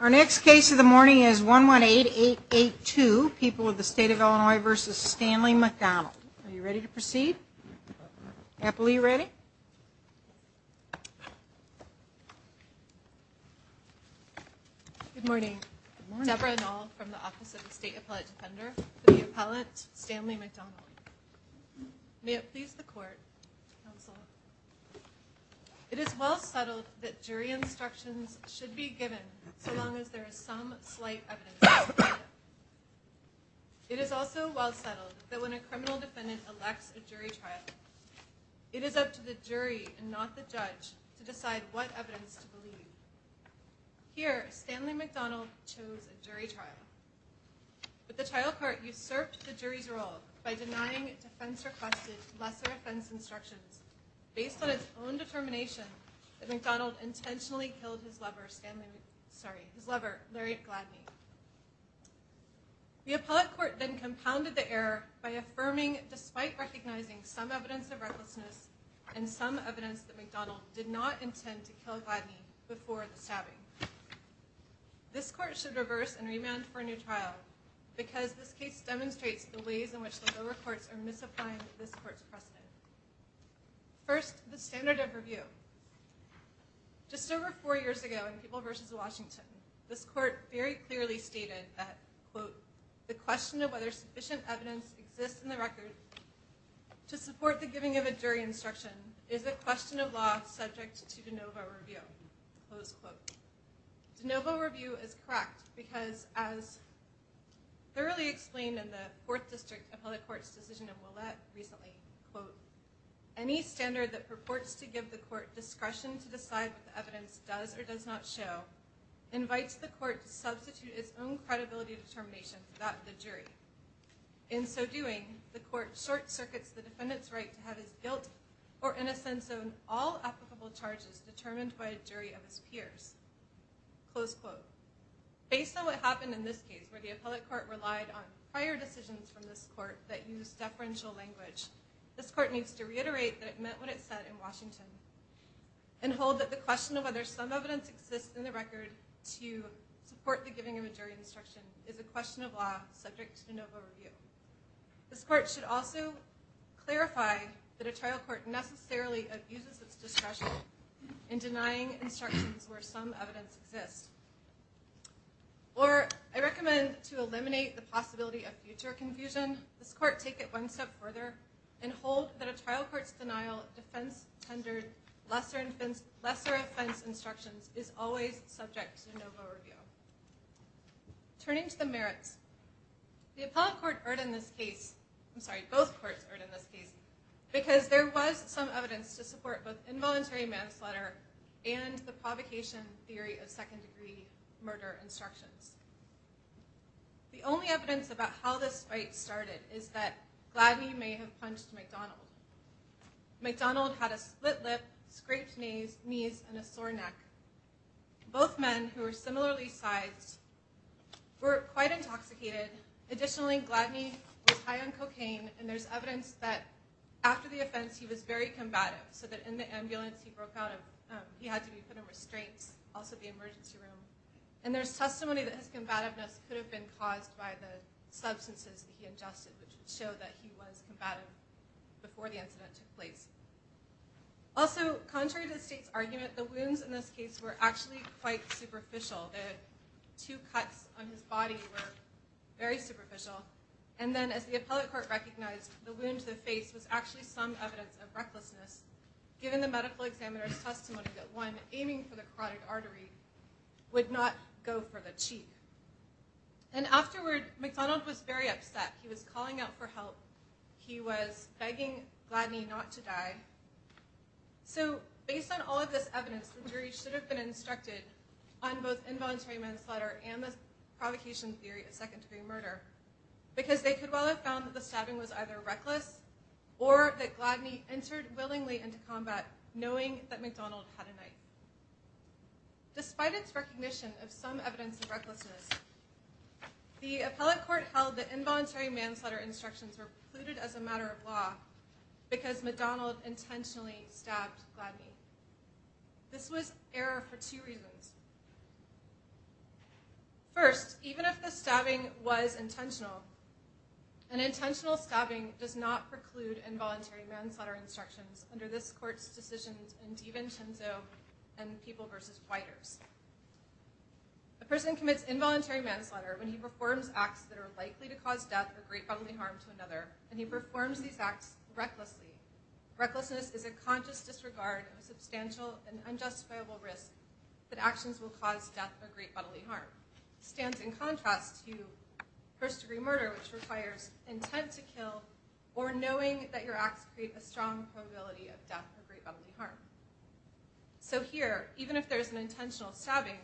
Our next case of the morning is 118882, People of the State of Illinois v. Stanley McDonald. Are you ready to proceed? Apple, are you ready? Good morning. Deborah Noll from the Office of the State Appellate Defender, for the appellate, Stanley McDonald. May it please the Court, Counsel. It is well settled that jury instructions should be given so long as there is some slight evidence. It is also well settled that when a criminal defendant elects a jury trial, it is up to the jury and not the judge to decide what evidence to believe. Here, Stanley McDonald chose a jury trial. But the trial court usurped the jury's role by denying defense-requested lesser-offense instructions based on its own determination that McDonald intentionally killed his lover, Larry Gladney. The appellate court then compounded the error by affirming, despite recognizing some evidence of recklessness and some evidence that McDonald did not intend to kill Gladney before the stabbing. This court should reverse and remand for a new trial because this case demonstrates the ways in which the lower courts are misapplying this court's precedent. First, the standard of review. Just over four years ago in People v. Washington, this court very clearly stated that, quote, the question of whether sufficient evidence exists in the record to support the giving of a jury instruction is a question of law subject to de novo review, close quote. De novo review is correct because, as thoroughly explained in the Fourth District Appellate Court's decision in Willett recently, quote, any standard that purports to give the court discretion to decide what the evidence does or does not show invites the court to substitute its own credibility determination without the jury. In so doing, the court short-circuits the defendant's right to have his guilt or innocence on all applicable charges determined by a jury of his peers, close quote. Based on what happened in this case, where the appellate court relied on prior decisions from this court that used deferential language, this court needs to reiterate that it meant what it said in Washington and hold that the question of whether some evidence exists in the record to support the giving of a jury instruction is a question of law subject to de novo review. This court should also clarify that a trial court necessarily abuses its discretion in denying instructions where some evidence exists. Or, I recommend to eliminate the possibility of future confusion, this court take it one step further and hold that a trial court's denial of defense-tendered lesser offense instructions is always subject to de novo review. Turning to the merits, the appellate court erred in this case, I'm sorry, both courts erred in this case because there was some evidence to support both involuntary manslaughter and the provocation theory of second-degree murder instructions. The only evidence about how this fight started is that Gladney may have punched McDonald. McDonald had a split lip, scraped knees, and a sore neck. Both men, who were similarly sized, were quite intoxicated. Additionally, Gladney was high on cocaine, and there's evidence that after the offense, he was very combative, so that in the ambulance he broke out of, he had to be put in restraints, also the emergency room. And there's testimony that his combativeness could have been caused by the substances he ingested, which would show that he was combative before the incident took place. Also, contrary to the state's argument, the wounds in this case were actually quite superficial. The two cuts on his body were very superficial. And then, as the appellate court recognized, the wound to the face was actually some evidence of recklessness, given the medical examiner's testimony that, one, aiming for the carotid artery would not go for the cheek. And afterward, McDonald was very upset. He was calling out for help. He was begging Gladney not to die. So, based on all of this evidence, the jury should have been instructed on both involuntary manslaughter and the provocation theory of second-degree murder, because they could well have found that the stabbing was either reckless, or that Gladney entered willingly into combat, knowing that McDonald had a knife. Despite its recognition of some evidence of recklessness, the appellate court held that involuntary manslaughter instructions were precluded as a matter of law because McDonald intentionally stabbed Gladney. This was error for two reasons. First, even if the stabbing was intentional, an intentional stabbing does not preclude involuntary manslaughter instructions under this court's decisions in DiVincenzo and People v. Whiters. A person commits involuntary manslaughter when he performs acts that are likely to cause death or great bodily harm to another, and he performs these acts recklessly. Recklessness is a conscious disregard of a substantial and unjustifiable risk that actions will cause death or great bodily harm. This stands in contrast to first-degree murder, which requires intent to kill or knowing that your acts create a strong probability of death or great bodily harm. So here, even if there is an intentional stabbing,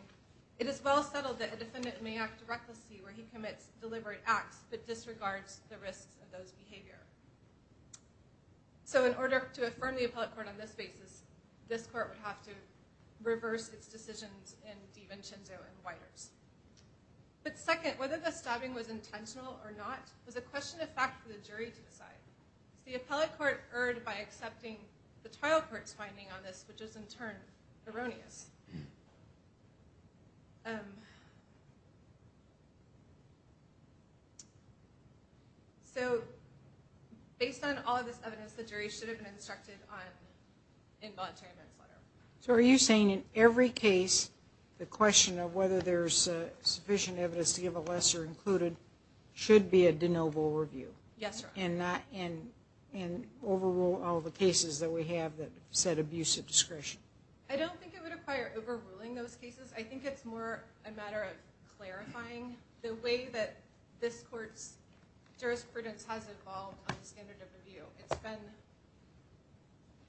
it is well settled that a defendant may act recklessly where he commits deliberate acts but disregards the risks of those behaviors. So in order to affirm the appellate court on this basis, this court would have to reverse its decisions in DiVincenzo and Whiters. But second, whether the stabbing was intentional or not was a question of fact for the jury to decide. The appellate court erred by accepting the trial court's finding on this, which is in turn erroneous. So based on all of this evidence, the jury should have been instructed on involuntary manslaughter. So are you saying in every case, the question of whether there's sufficient evidence to give a lesser included should be a de novo review? Yes, Your Honor. And overrule all the cases that we have that set abusive discretion? I don't think it would require overruling those cases. I think it's more a matter of clarifying the way that this court's jurisprudence has evolved on the standard of review. It's been,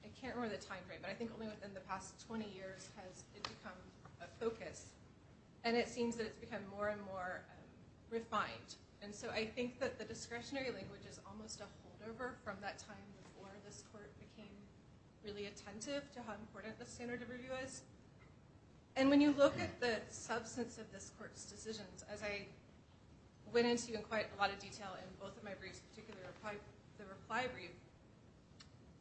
I can't remember the time frame, but I think only within the past 20 years has it become a focus. And it seems that it's become more and more refined. And so I think that the discretionary language is almost a holdover from that time before this court became really attentive to how important the standard of review is. And when you look at the substance of this court's decisions, as I went into quite a lot of detail in both of my briefs, particularly the reply brief,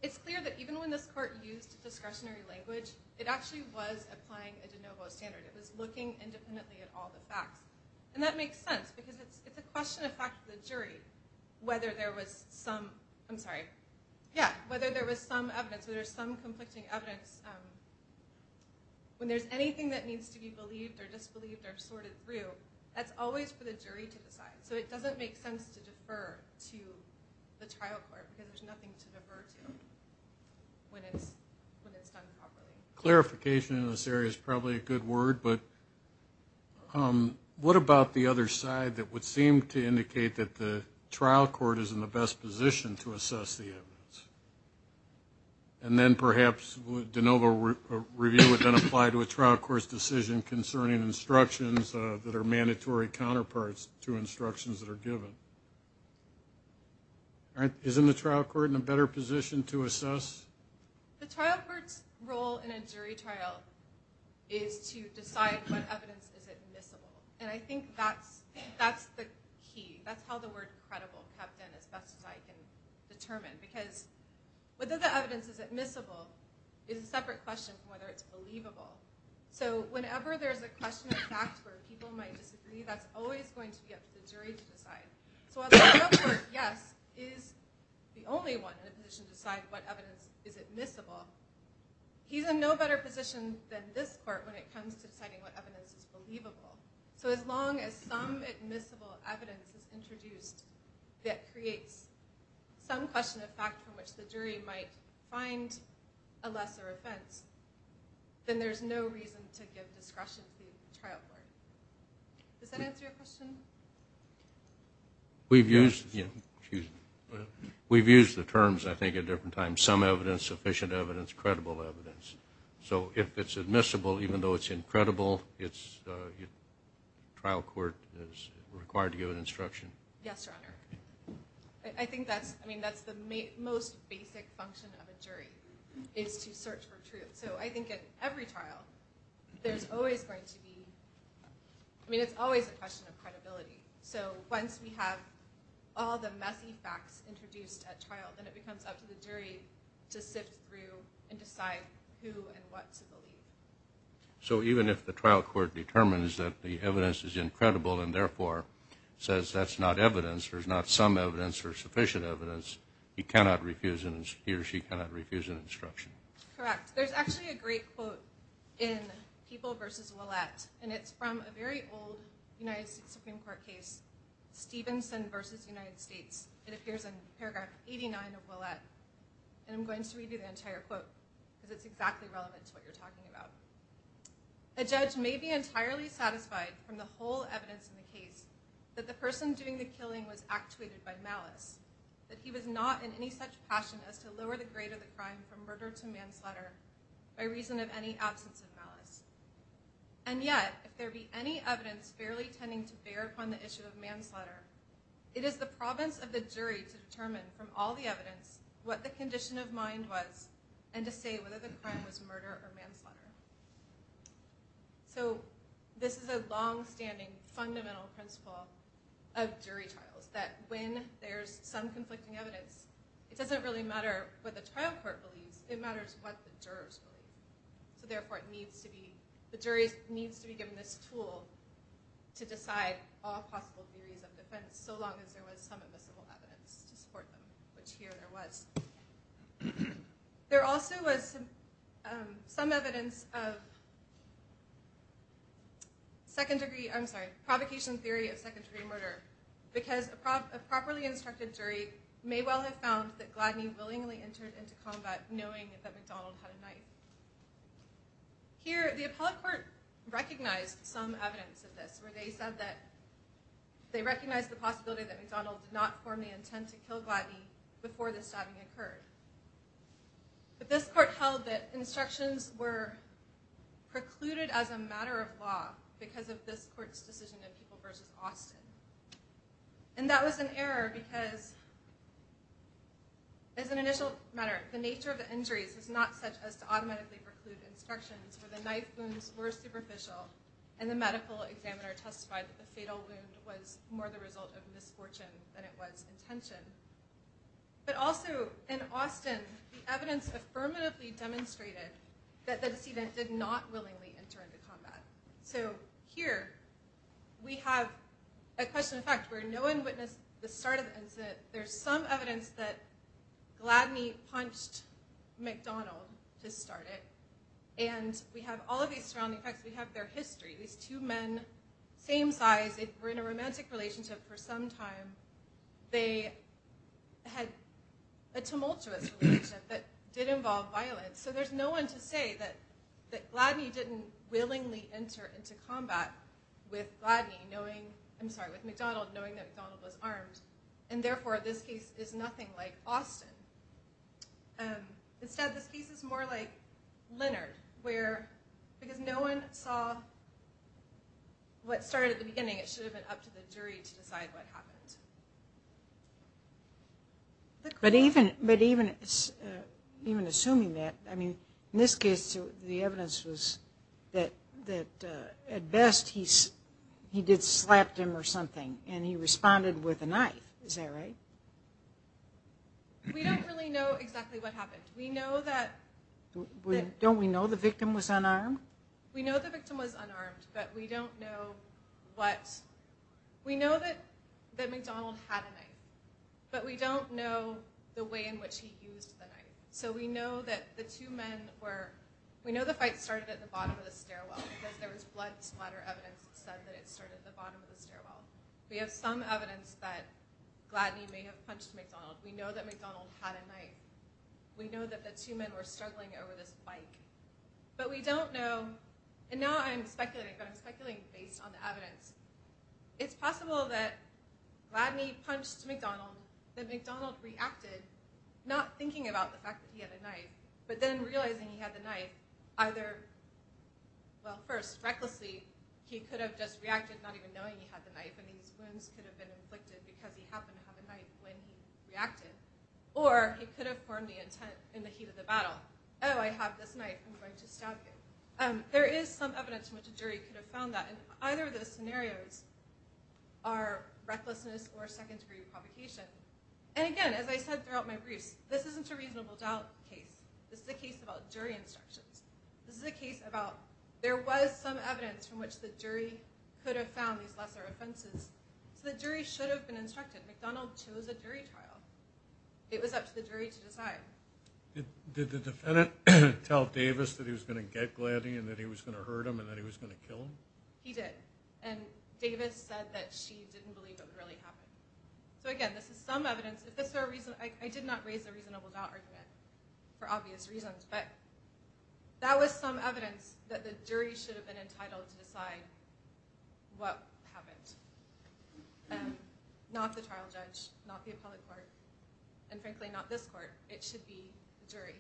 it's clear that even when this court used discretionary language, it actually was applying a de novo standard. It was looking independently at all the facts. And that makes sense because it's a question of fact for the jury whether there was some conflicting evidence. When there's anything that needs to be believed or disbelieved or sorted through, that's always for the jury to decide. So it doesn't make sense to defer to the trial court because there's nothing to defer to when it's done properly. Clarification in this area is probably a good word, but what about the other side that would seem to indicate that the trial court is in the best position to assess the evidence? And then perhaps de novo review would then apply to a trial court's decision concerning instructions that are mandatory counterparts to instructions that are given. The trial court's role in a jury trial is to decide what evidence is admissible. And I think that's the key. That's how the word credible comes in as best as I can determine because whether the evidence is admissible is a separate question from whether it's believable. So whenever there's a question of fact where people might disagree, that's always going to be up to the jury to decide. So while the trial court, yes, is the only one in a position to decide what evidence is admissible, he's in no better position than this court when it comes to deciding what evidence is believable. So as long as some admissible evidence is introduced that creates some question of fact from which the jury might find a lesser offense, then there's no reason to give discretion to the trial court. Does that answer your question? We've used the terms, I think, at different times. Some evidence, sufficient evidence, credible evidence. So if it's admissible, even though it's incredible, the trial court is required to give an instruction. Yes, Your Honor. I think that's the most basic function of a jury is to search for truth. So I think at every trial, there's always going to be... I mean, it's always a question of credibility. So once we have all the messy facts introduced at trial, then it becomes up to the jury to sift through and decide who and what to believe. So even if the trial court determines that the evidence is incredible and therefore says that's not evidence, there's not some evidence or sufficient evidence, he or she cannot refuse an instruction. Correct. There's actually a great quote in People v. Ouellette, and it's from a very old United States Supreme Court case, Stevenson v. United States. It appears in paragraph 89 of Ouellette. And I'm going to read you the entire quote because it's exactly relevant to what you're talking about. A judge may be entirely satisfied from the whole evidence in the case that the person doing the killing was actuated by malice, that he was not in any such passion as to lower the grade of the crime from murder to manslaughter by reason of any absence of malice. And yet, if there be any evidence fairly tending to bear upon the issue of manslaughter, it is the province of the jury to determine from all the evidence what the condition of mind was and to say whether the crime was murder or manslaughter. So this is a longstanding, fundamental principle of jury trials, that when there's some conflicting evidence, it doesn't really matter what the trial court believes, it matters what the jurors believe. So therefore, the jury needs to be given this tool to decide all possible theories of defense so long as there was some invisible evidence to support them, which here there was. There also was some evidence of second-degree... I'm sorry, provocation theory of second-degree murder because a properly instructed jury may well have found that Gladney willingly entered into combat knowing that McDonald had a knife. Here, the appellate court recognized some evidence of this where they said that they recognized the possibility that McDonald did not form the intent to kill Gladney before the stabbing occurred. But this court held that instructions were precluded as a matter of law because of this court's decision in People v. Austin. And that was an error because, as an initial matter, the nature of the injuries is not such as to automatically preclude instructions where the knife wounds were superficial and the medical examiner testified that the fatal wound was more the result of misfortune than it was intention. But also, in Austin, the evidence affirmatively demonstrated that the decedent did not willingly enter into combat. So here, we have a question of fact where no one witnessed the start of the incident. There's some evidence that Gladney punched McDonald to start it. And we have all of these surrounding facts. We have their history. These two men, same size, were in a romantic relationship for some time. They had a tumultuous relationship that did involve violence. So there's no one to say that Gladney didn't willingly enter into combat with McDonald knowing that McDonald was armed, and therefore this case is nothing like Austin. Instead, this case is more like Leonard because no one saw what started at the beginning. It should have been up to the jury to decide what happened. But even assuming that, I mean, in this case, the evidence was that at best he did slap him or something, and he responded with a knife. Is that right? We don't really know exactly what happened. We know that... Don't we know the victim was unarmed? We know the victim was unarmed, but we don't know what. We know that McDonald had a knife, but we don't know the way in which he used the knife. So we know that the two men were... We know the fight started at the bottom of the stairwell because there was blood splatter evidence that said that it started at the bottom of the stairwell. We have some evidence that Gladney may have punched McDonald. We know that McDonald had a knife. We know that the two men were struggling over this bike. But we don't know, and now I'm speculating, but I'm speculating based on the evidence. It's possible that Gladney punched McDonald, that McDonald reacted, not thinking about the fact that he had a knife, but then realizing he had the knife, either, well, first, recklessly, he could have just reacted not even knowing he had the knife, and these wounds could have been inflicted because he happened to have a knife when he reacted, or he could have formed the intent in the heat of the battle. Oh, I have this knife. I'm going to stab you. There is some evidence in which a jury could have found that, and either of those scenarios are recklessness or second-degree provocation. And again, as I said throughout my briefs, this isn't a reasonable doubt case. This is a case about jury instructions. This is a case about there was some evidence from which the jury could have found these lesser offenses, so the jury should have been instructed. McDonald chose a jury trial. It was up to the jury to decide. Did the defendant tell Davis that he was going to get Gladdy and that he was going to hurt him and that he was going to kill him? He did, and Davis said that she didn't believe it would really happen. So again, this is some evidence. I did not raise the reasonable doubt argument for obvious reasons, but that was some evidence that the jury should have been entitled to decide what happened. Not the trial judge, not the appellate court, and frankly not this court. It should be the jury.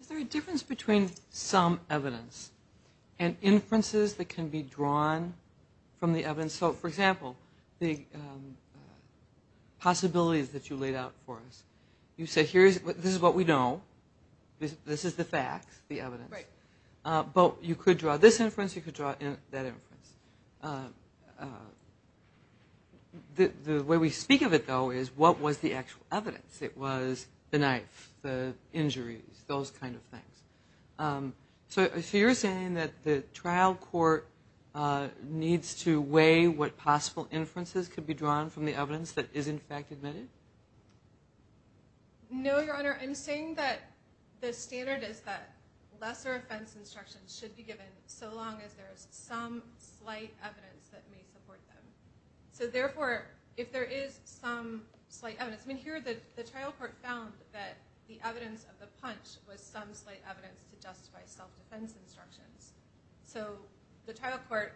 Is there a difference between some evidence and inferences that can be drawn from the evidence? For example, the possibilities that you laid out for us. You said this is what we know, this is the fact, the evidence. But you could draw this inference, you could draw that inference. The way we speak of it, though, is what was the actual evidence? It was the knife, the injuries, those kind of things. So you're saying that the trial court needs to weigh what possible inferences could be drawn from the evidence that is in fact admitted? No, Your Honor. I'm saying that the standard is that lesser offense instructions should be some slight evidence that may support them. So therefore, if there is some slight evidence, I mean here the trial court found that the evidence of the punch was some slight evidence to justify self-defense instructions. So the trial court,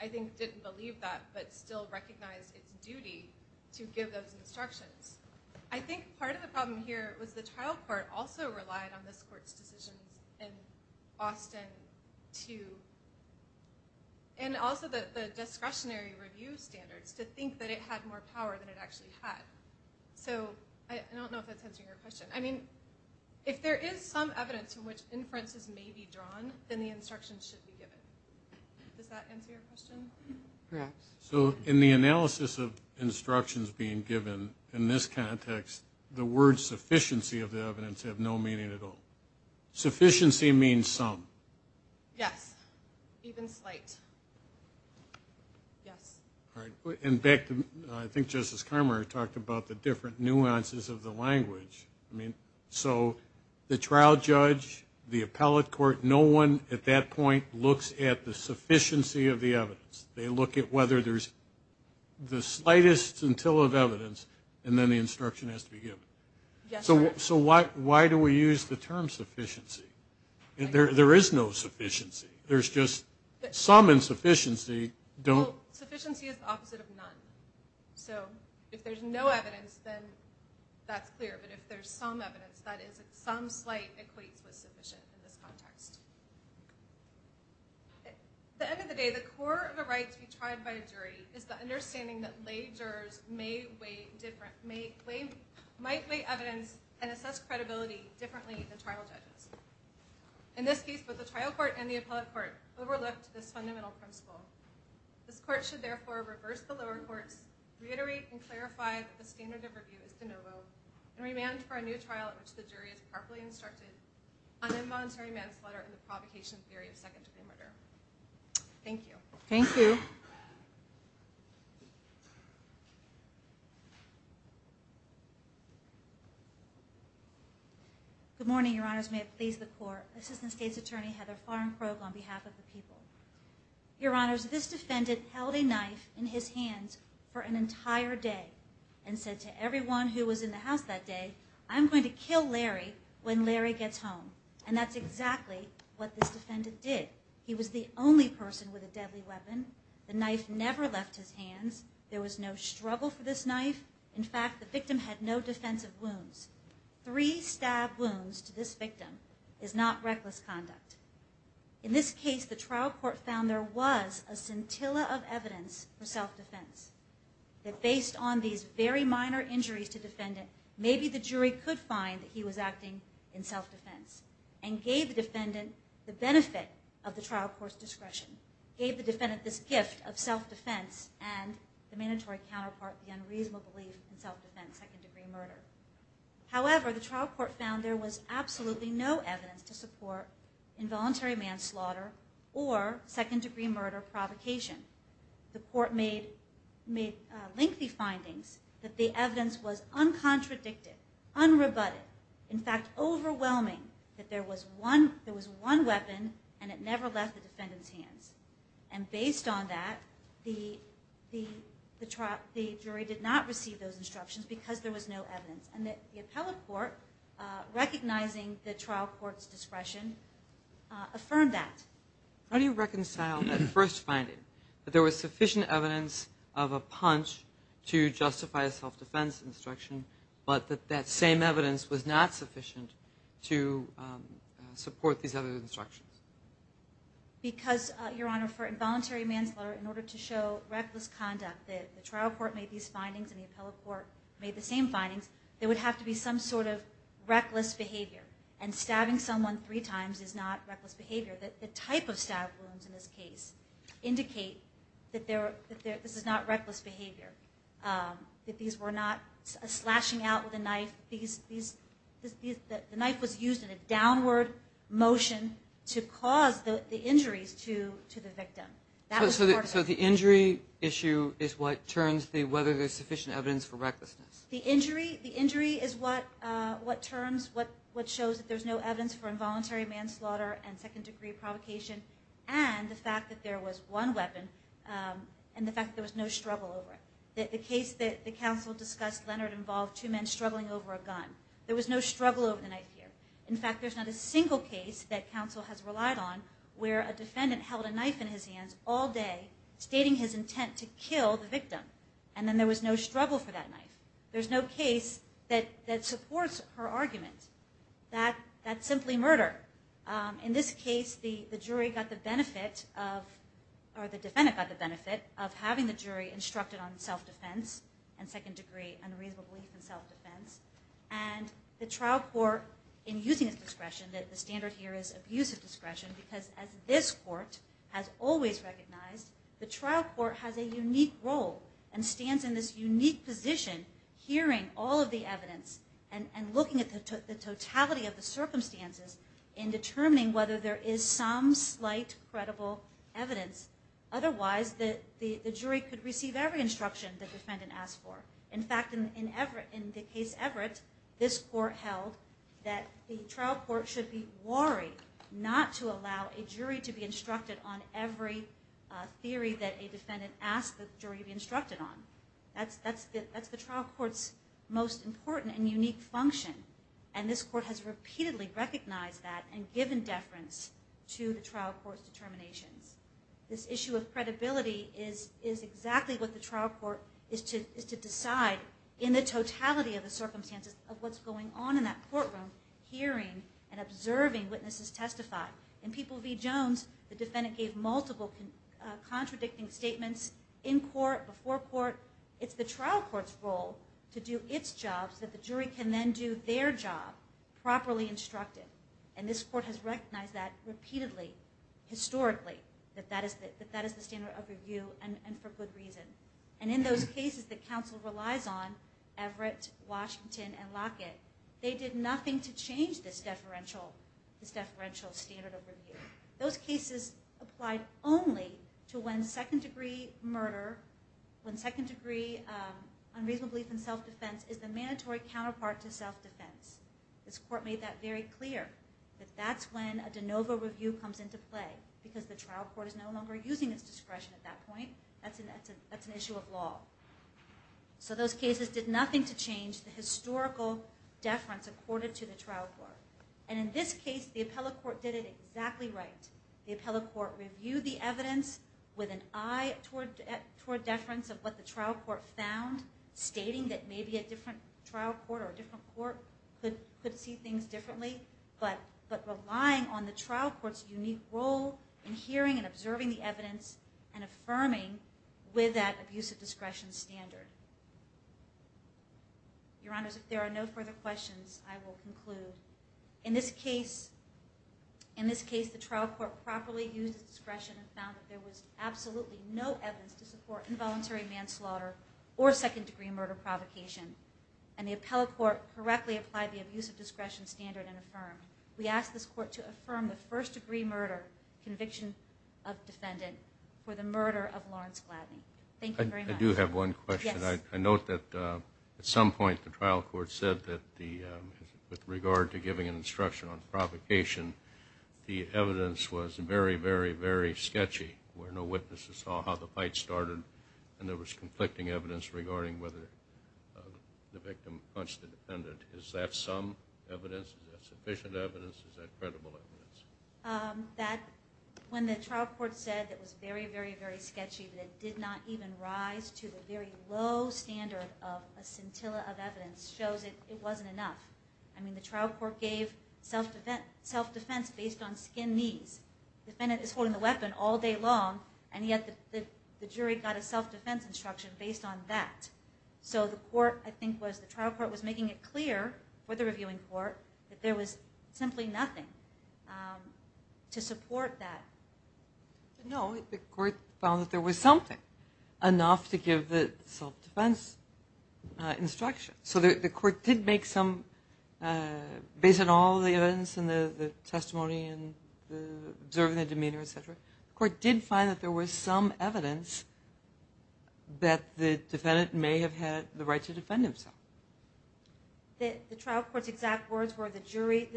I think, didn't believe that but still recognized its duty to give those instructions. I think part of the problem here was the trial court also relied on this court's decisions in Austin to, and also the discretionary review standards, to think that it had more power than it actually had. So I don't know if that's answering your question. I mean, if there is some evidence from which inferences may be drawn, then the instructions should be given. Does that answer your question? Correct. So in the analysis of instructions being given in this context, the words sufficiency of the evidence have no meaning at all. Sufficiency means some. Yes. Even slight. Yes. All right. And back to, I think Justice Carmer talked about the different nuances of the language. So the trial judge, the appellate court, no one at that point looks at the sufficiency of the evidence. They look at whether there's the slightest until of evidence, and then the instruction has to be given. Yes. So why do we use the term sufficiency? There is no sufficiency. There's just some insufficiency. Well, sufficiency is the opposite of none. So if there's no evidence, then that's clear. But if there's some evidence, that is if some slight equates with sufficient in this context. At the end of the day, the core of the right to be tried by a jury is the understanding that the jury might weigh evidence and assess credibility differently than trial judges. In this case, both the trial court and the appellate court overlooked this fundamental principle. This court should, therefore, reverse the lower courts, reiterate and clarify that the standard of review is de novo, and remand for a new trial in which the jury is properly instructed on involuntary manslaughter and the provocation theory of second degree murder. Thank you. Thank you. Good morning, Your Honors. May it please the court. Assistant State's Attorney Heather Farr and Krogh on behalf of the people. Your Honors, this defendant held a knife in his hands for an entire day and said to everyone who was in the house that day, I'm going to kill Larry when Larry gets home. And that's exactly what this defendant did. He was the only person with a deadly weapon. The knife never left his hands. There was no struggle for this knife. In fact, the victim had no defensive wounds. Three stab wounds to this victim is not reckless conduct. In this case, the trial court found there was a scintilla of evidence for self-defense, that based on these very minor injuries to defendant, maybe the jury could find that he was acting in self-defense and gave the defendant the benefit of the trial court's discretion, gave the defendant this gift of self-defense and the mandatory counterpart, the unreasonable belief in self-defense, second-degree murder. However, the trial court found there was absolutely no evidence to support involuntary manslaughter or second-degree murder provocation. The court made lengthy findings that the evidence was uncontradicted, unrebutted. In fact, overwhelming that there was one weapon and it never left the defendant's hands. And based on that, the jury did not receive those instructions because there was no evidence. And the appellate court, recognizing the trial court's discretion, affirmed that. How do you reconcile that first finding, that there was sufficient evidence of a punch to justify a self-defense instruction, but that that same evidence was not sufficient to support these other instructions? Because, Your Honor, for involuntary manslaughter, in order to show reckless conduct, the trial court made these findings and the appellate court made the same findings, there would have to be some sort of reckless behavior. And stabbing someone three times is not reckless behavior. The type of stab wounds in this case indicate that this is not reckless behavior, that these were not slashing out with a knife. The knife was used in a downward motion to cause the injuries to the victim. So the injury issue is what turns the... whether there's sufficient evidence for recklessness. The injury is what turns... what shows that there's no evidence for involuntary manslaughter and second-degree provocation and the fact that there was one weapon and the fact that there was no struggle over it. The case that the counsel discussed, Leonard, involved two men struggling over a gun. There was no struggle over the knife here. In fact, there's not a single case that counsel has relied on where a defendant held a knife in his hands all day, stating his intent to kill the victim, and then there was no struggle for that knife. There's no case that supports her argument. That's simply murder. In this case, the jury got the benefit of... or the defendant got the benefit of having the jury instructed on self-defense and second-degree unreasonable belief in self-defense. And the trial court, in using this discretion, that the standard here is abusive discretion, because as this court has always recognized, the trial court has a unique role and stands in this unique position hearing all of the evidence and looking at the totality of the circumstances in determining whether there is some slight credible evidence. Otherwise, the jury could receive every instruction the defendant asked for. In fact, in the case Everett, this court held that the trial court should be worried not to allow a jury to be instructed on every theory that a defendant asked the jury to be instructed on. That's the trial court's most important and unique function, and this court has repeatedly recognized that and given deference to the trial court's determinations. This issue of credibility is exactly what the trial court is to decide in the totality of the circumstances of what's going on in that courtroom, hearing and observing witnesses testify. In People v. Jones, the defendant gave multiple contradicting statements in court, before court. It's the trial court's role to do its job so that the jury can then do their job properly instructed, and this court has recognized that repeatedly, historically, that that is the standard of review, and for good reason. And in those cases that counsel relies on, Everett, Washington, and Lockett, they did nothing to change this deferential standard of review. Those cases applied only to when second-degree murder, when second-degree unreasonable belief in self-defense is the mandatory counterpart to self-defense. This court made that very clear, that that's when a de novo review comes into play, because the trial court is no longer using its discretion at that point. That's an issue of law. So those cases did nothing to change the historical deference accorded to the trial court. And in this case, the appellate court did it exactly right. The appellate court reviewed the evidence with an eye toward deference of what the trial court found, stating that maybe a different trial court or a different court could see things differently, but relying on the trial court's unique role in hearing and observing the evidence and affirming with that abuse of discretion standard. Your Honors, if there are no further questions, I will conclude. In this case, the trial court properly used its discretion and found that there was absolutely no evidence to support involuntary manslaughter or second-degree murder provocation. And the appellate court correctly applied the abuse of discretion standard and affirmed. We ask this court to affirm the first-degree murder conviction of defendant for the murder of Lawrence Gladney. Thank you very much. I do have one question. I note that at some point the trial court said that with regard to giving an instruction on provocation, the evidence was very, very, very sketchy, where no witnesses saw how the fight started, and there was conflicting evidence regarding whether the victim punched the defendant. Is that some evidence? Is that sufficient evidence? Is that credible evidence? When the trial court said it was very, very, very sketchy, that it did not even rise to the very low standard of a scintilla of evidence shows it wasn't enough. I mean, the trial court gave self-defense based on skin knees. The defendant is holding the weapon all day long, and yet the jury got a self-defense instruction based on that. So the court, I think, was the trial court, was making it clear for the reviewing court that there was simply nothing to support that. No, the court found that there was something enough to give the self-defense instruction. So the court did make some, based on all the evidence and the testimony and observing their demeanor, et cetera, the court did find that there was some evidence that the defendant may have had the right to defend himself. The trial court's exact words were the jury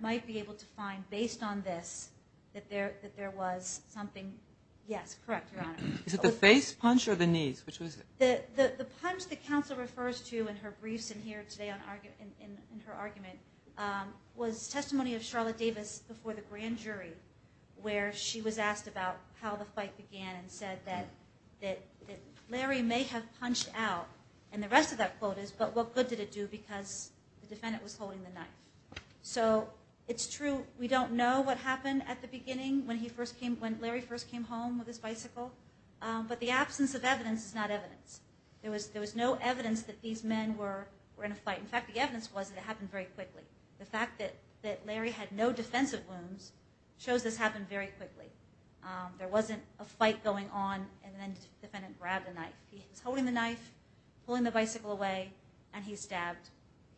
might be able to find, based on this, that there was something. Yes, correct, Your Honor. Is it the face punch or the knees? The punch the counsel refers to in her briefs and here today in her argument was testimony of Charlotte Davis before the grand jury where she was asked about how the fight began and said that Larry may have punched out, and the rest of that quote is, but what good did it do because the defendant was holding the knife. So it's true we don't know what happened at the beginning when Larry first came home with his bicycle, but the absence of evidence is not evidence. There was no evidence that these men were in a fight. In fact, the evidence was that it happened very quickly. The fact that Larry had no defensive wounds shows this happened very quickly. There wasn't a fight going on and then the defendant grabbed the knife. He was holding the knife, pulling the bicycle away, and he stabbed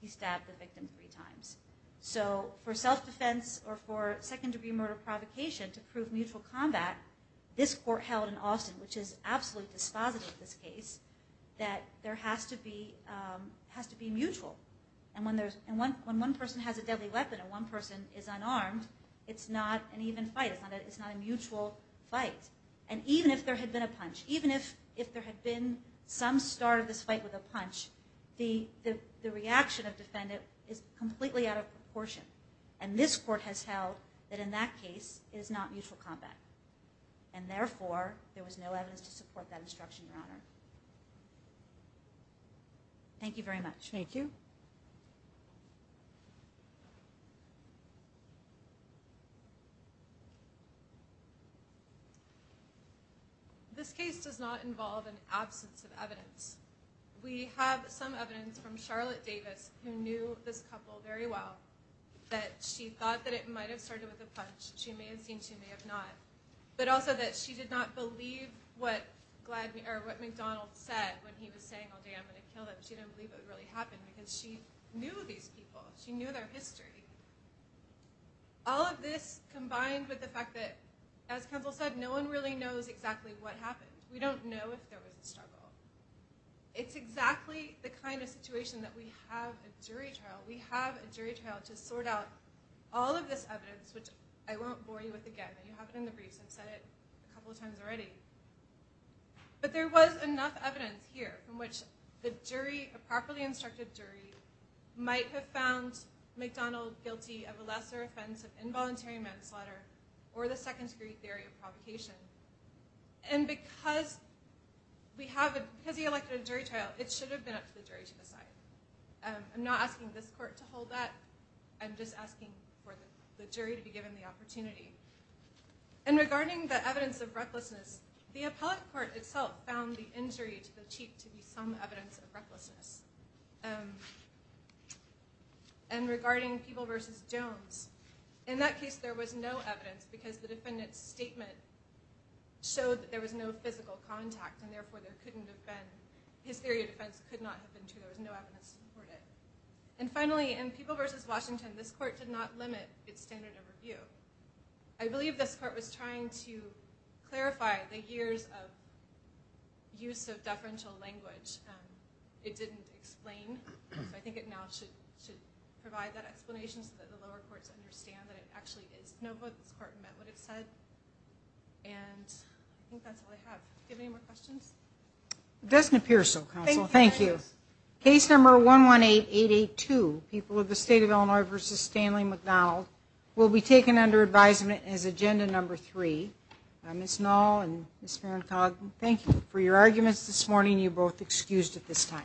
the victim three times. So for self-defense or for second-degree murder provocation to prove mutual combat, this court held in Austin, which is absolutely dispositive of this case, that there has to be mutual. And when one person has a deadly weapon and one person is unarmed, it's not an even fight. It's not a mutual fight. And even if there had been a punch, even if there had been some start of this fight with a punch, the reaction of the defendant is completely out of proportion. And this court has held that in that case, it is not mutual combat. And therefore, there was no evidence to support that instruction, Your Honor. Thank you very much. Thank you. This case does not involve an absence of evidence. We have some evidence from Charlotte Davis, who knew this couple very well, that she thought that it might have started with a punch. She may have seen, she may have not. But also that she did not believe what McDonald said when he was saying, oh, damn, I'm going to kill them. She didn't believe it would really happen because she knew these people. She knew their history. All of this combined with the fact that, as Counsel said, no one really knows exactly what happened. We don't know if there was a struggle. It's exactly the kind of situation that we have a jury trial. We have a jury trial to sort out all of this evidence, which I won't bore you with again. You have it in the briefs. I've said it a couple of times already. But there was enough evidence here from which the jury, a properly instructed jury, might have found McDonald guilty of a lesser offense of involuntary manslaughter or the second-degree theory of provocation. And because he elected a jury trial, it should have been up to the jury to decide. I'm not asking this court to hold that. I'm just asking for the jury to be given the opportunity. And regarding the evidence of recklessness, the appellate court itself found the injury to the cheat to be some evidence of recklessness. And regarding People v. Jones, in that case, there was no evidence because the defendant's statement showed that there was no physical contact, and therefore his theory of defense could not have been true. There was no evidence to support it. And finally, in People v. Washington, this court did not limit its standard of review. I believe this court was trying to clarify the years of use of deferential language. It didn't explain. So I think it now should provide that explanation so that the lower courts understand that it actually is. No vote this court met what it said. And I think that's all I have. Do you have any more questions? It doesn't appear so, counsel. Thank you. Case number 118882, People of the State of Illinois v. Stanley McDonald, will be taken under advisement as agenda number three. Ms. Knoll and Ms. Van Togden, thank you for your arguments this morning. You're both excused at this time.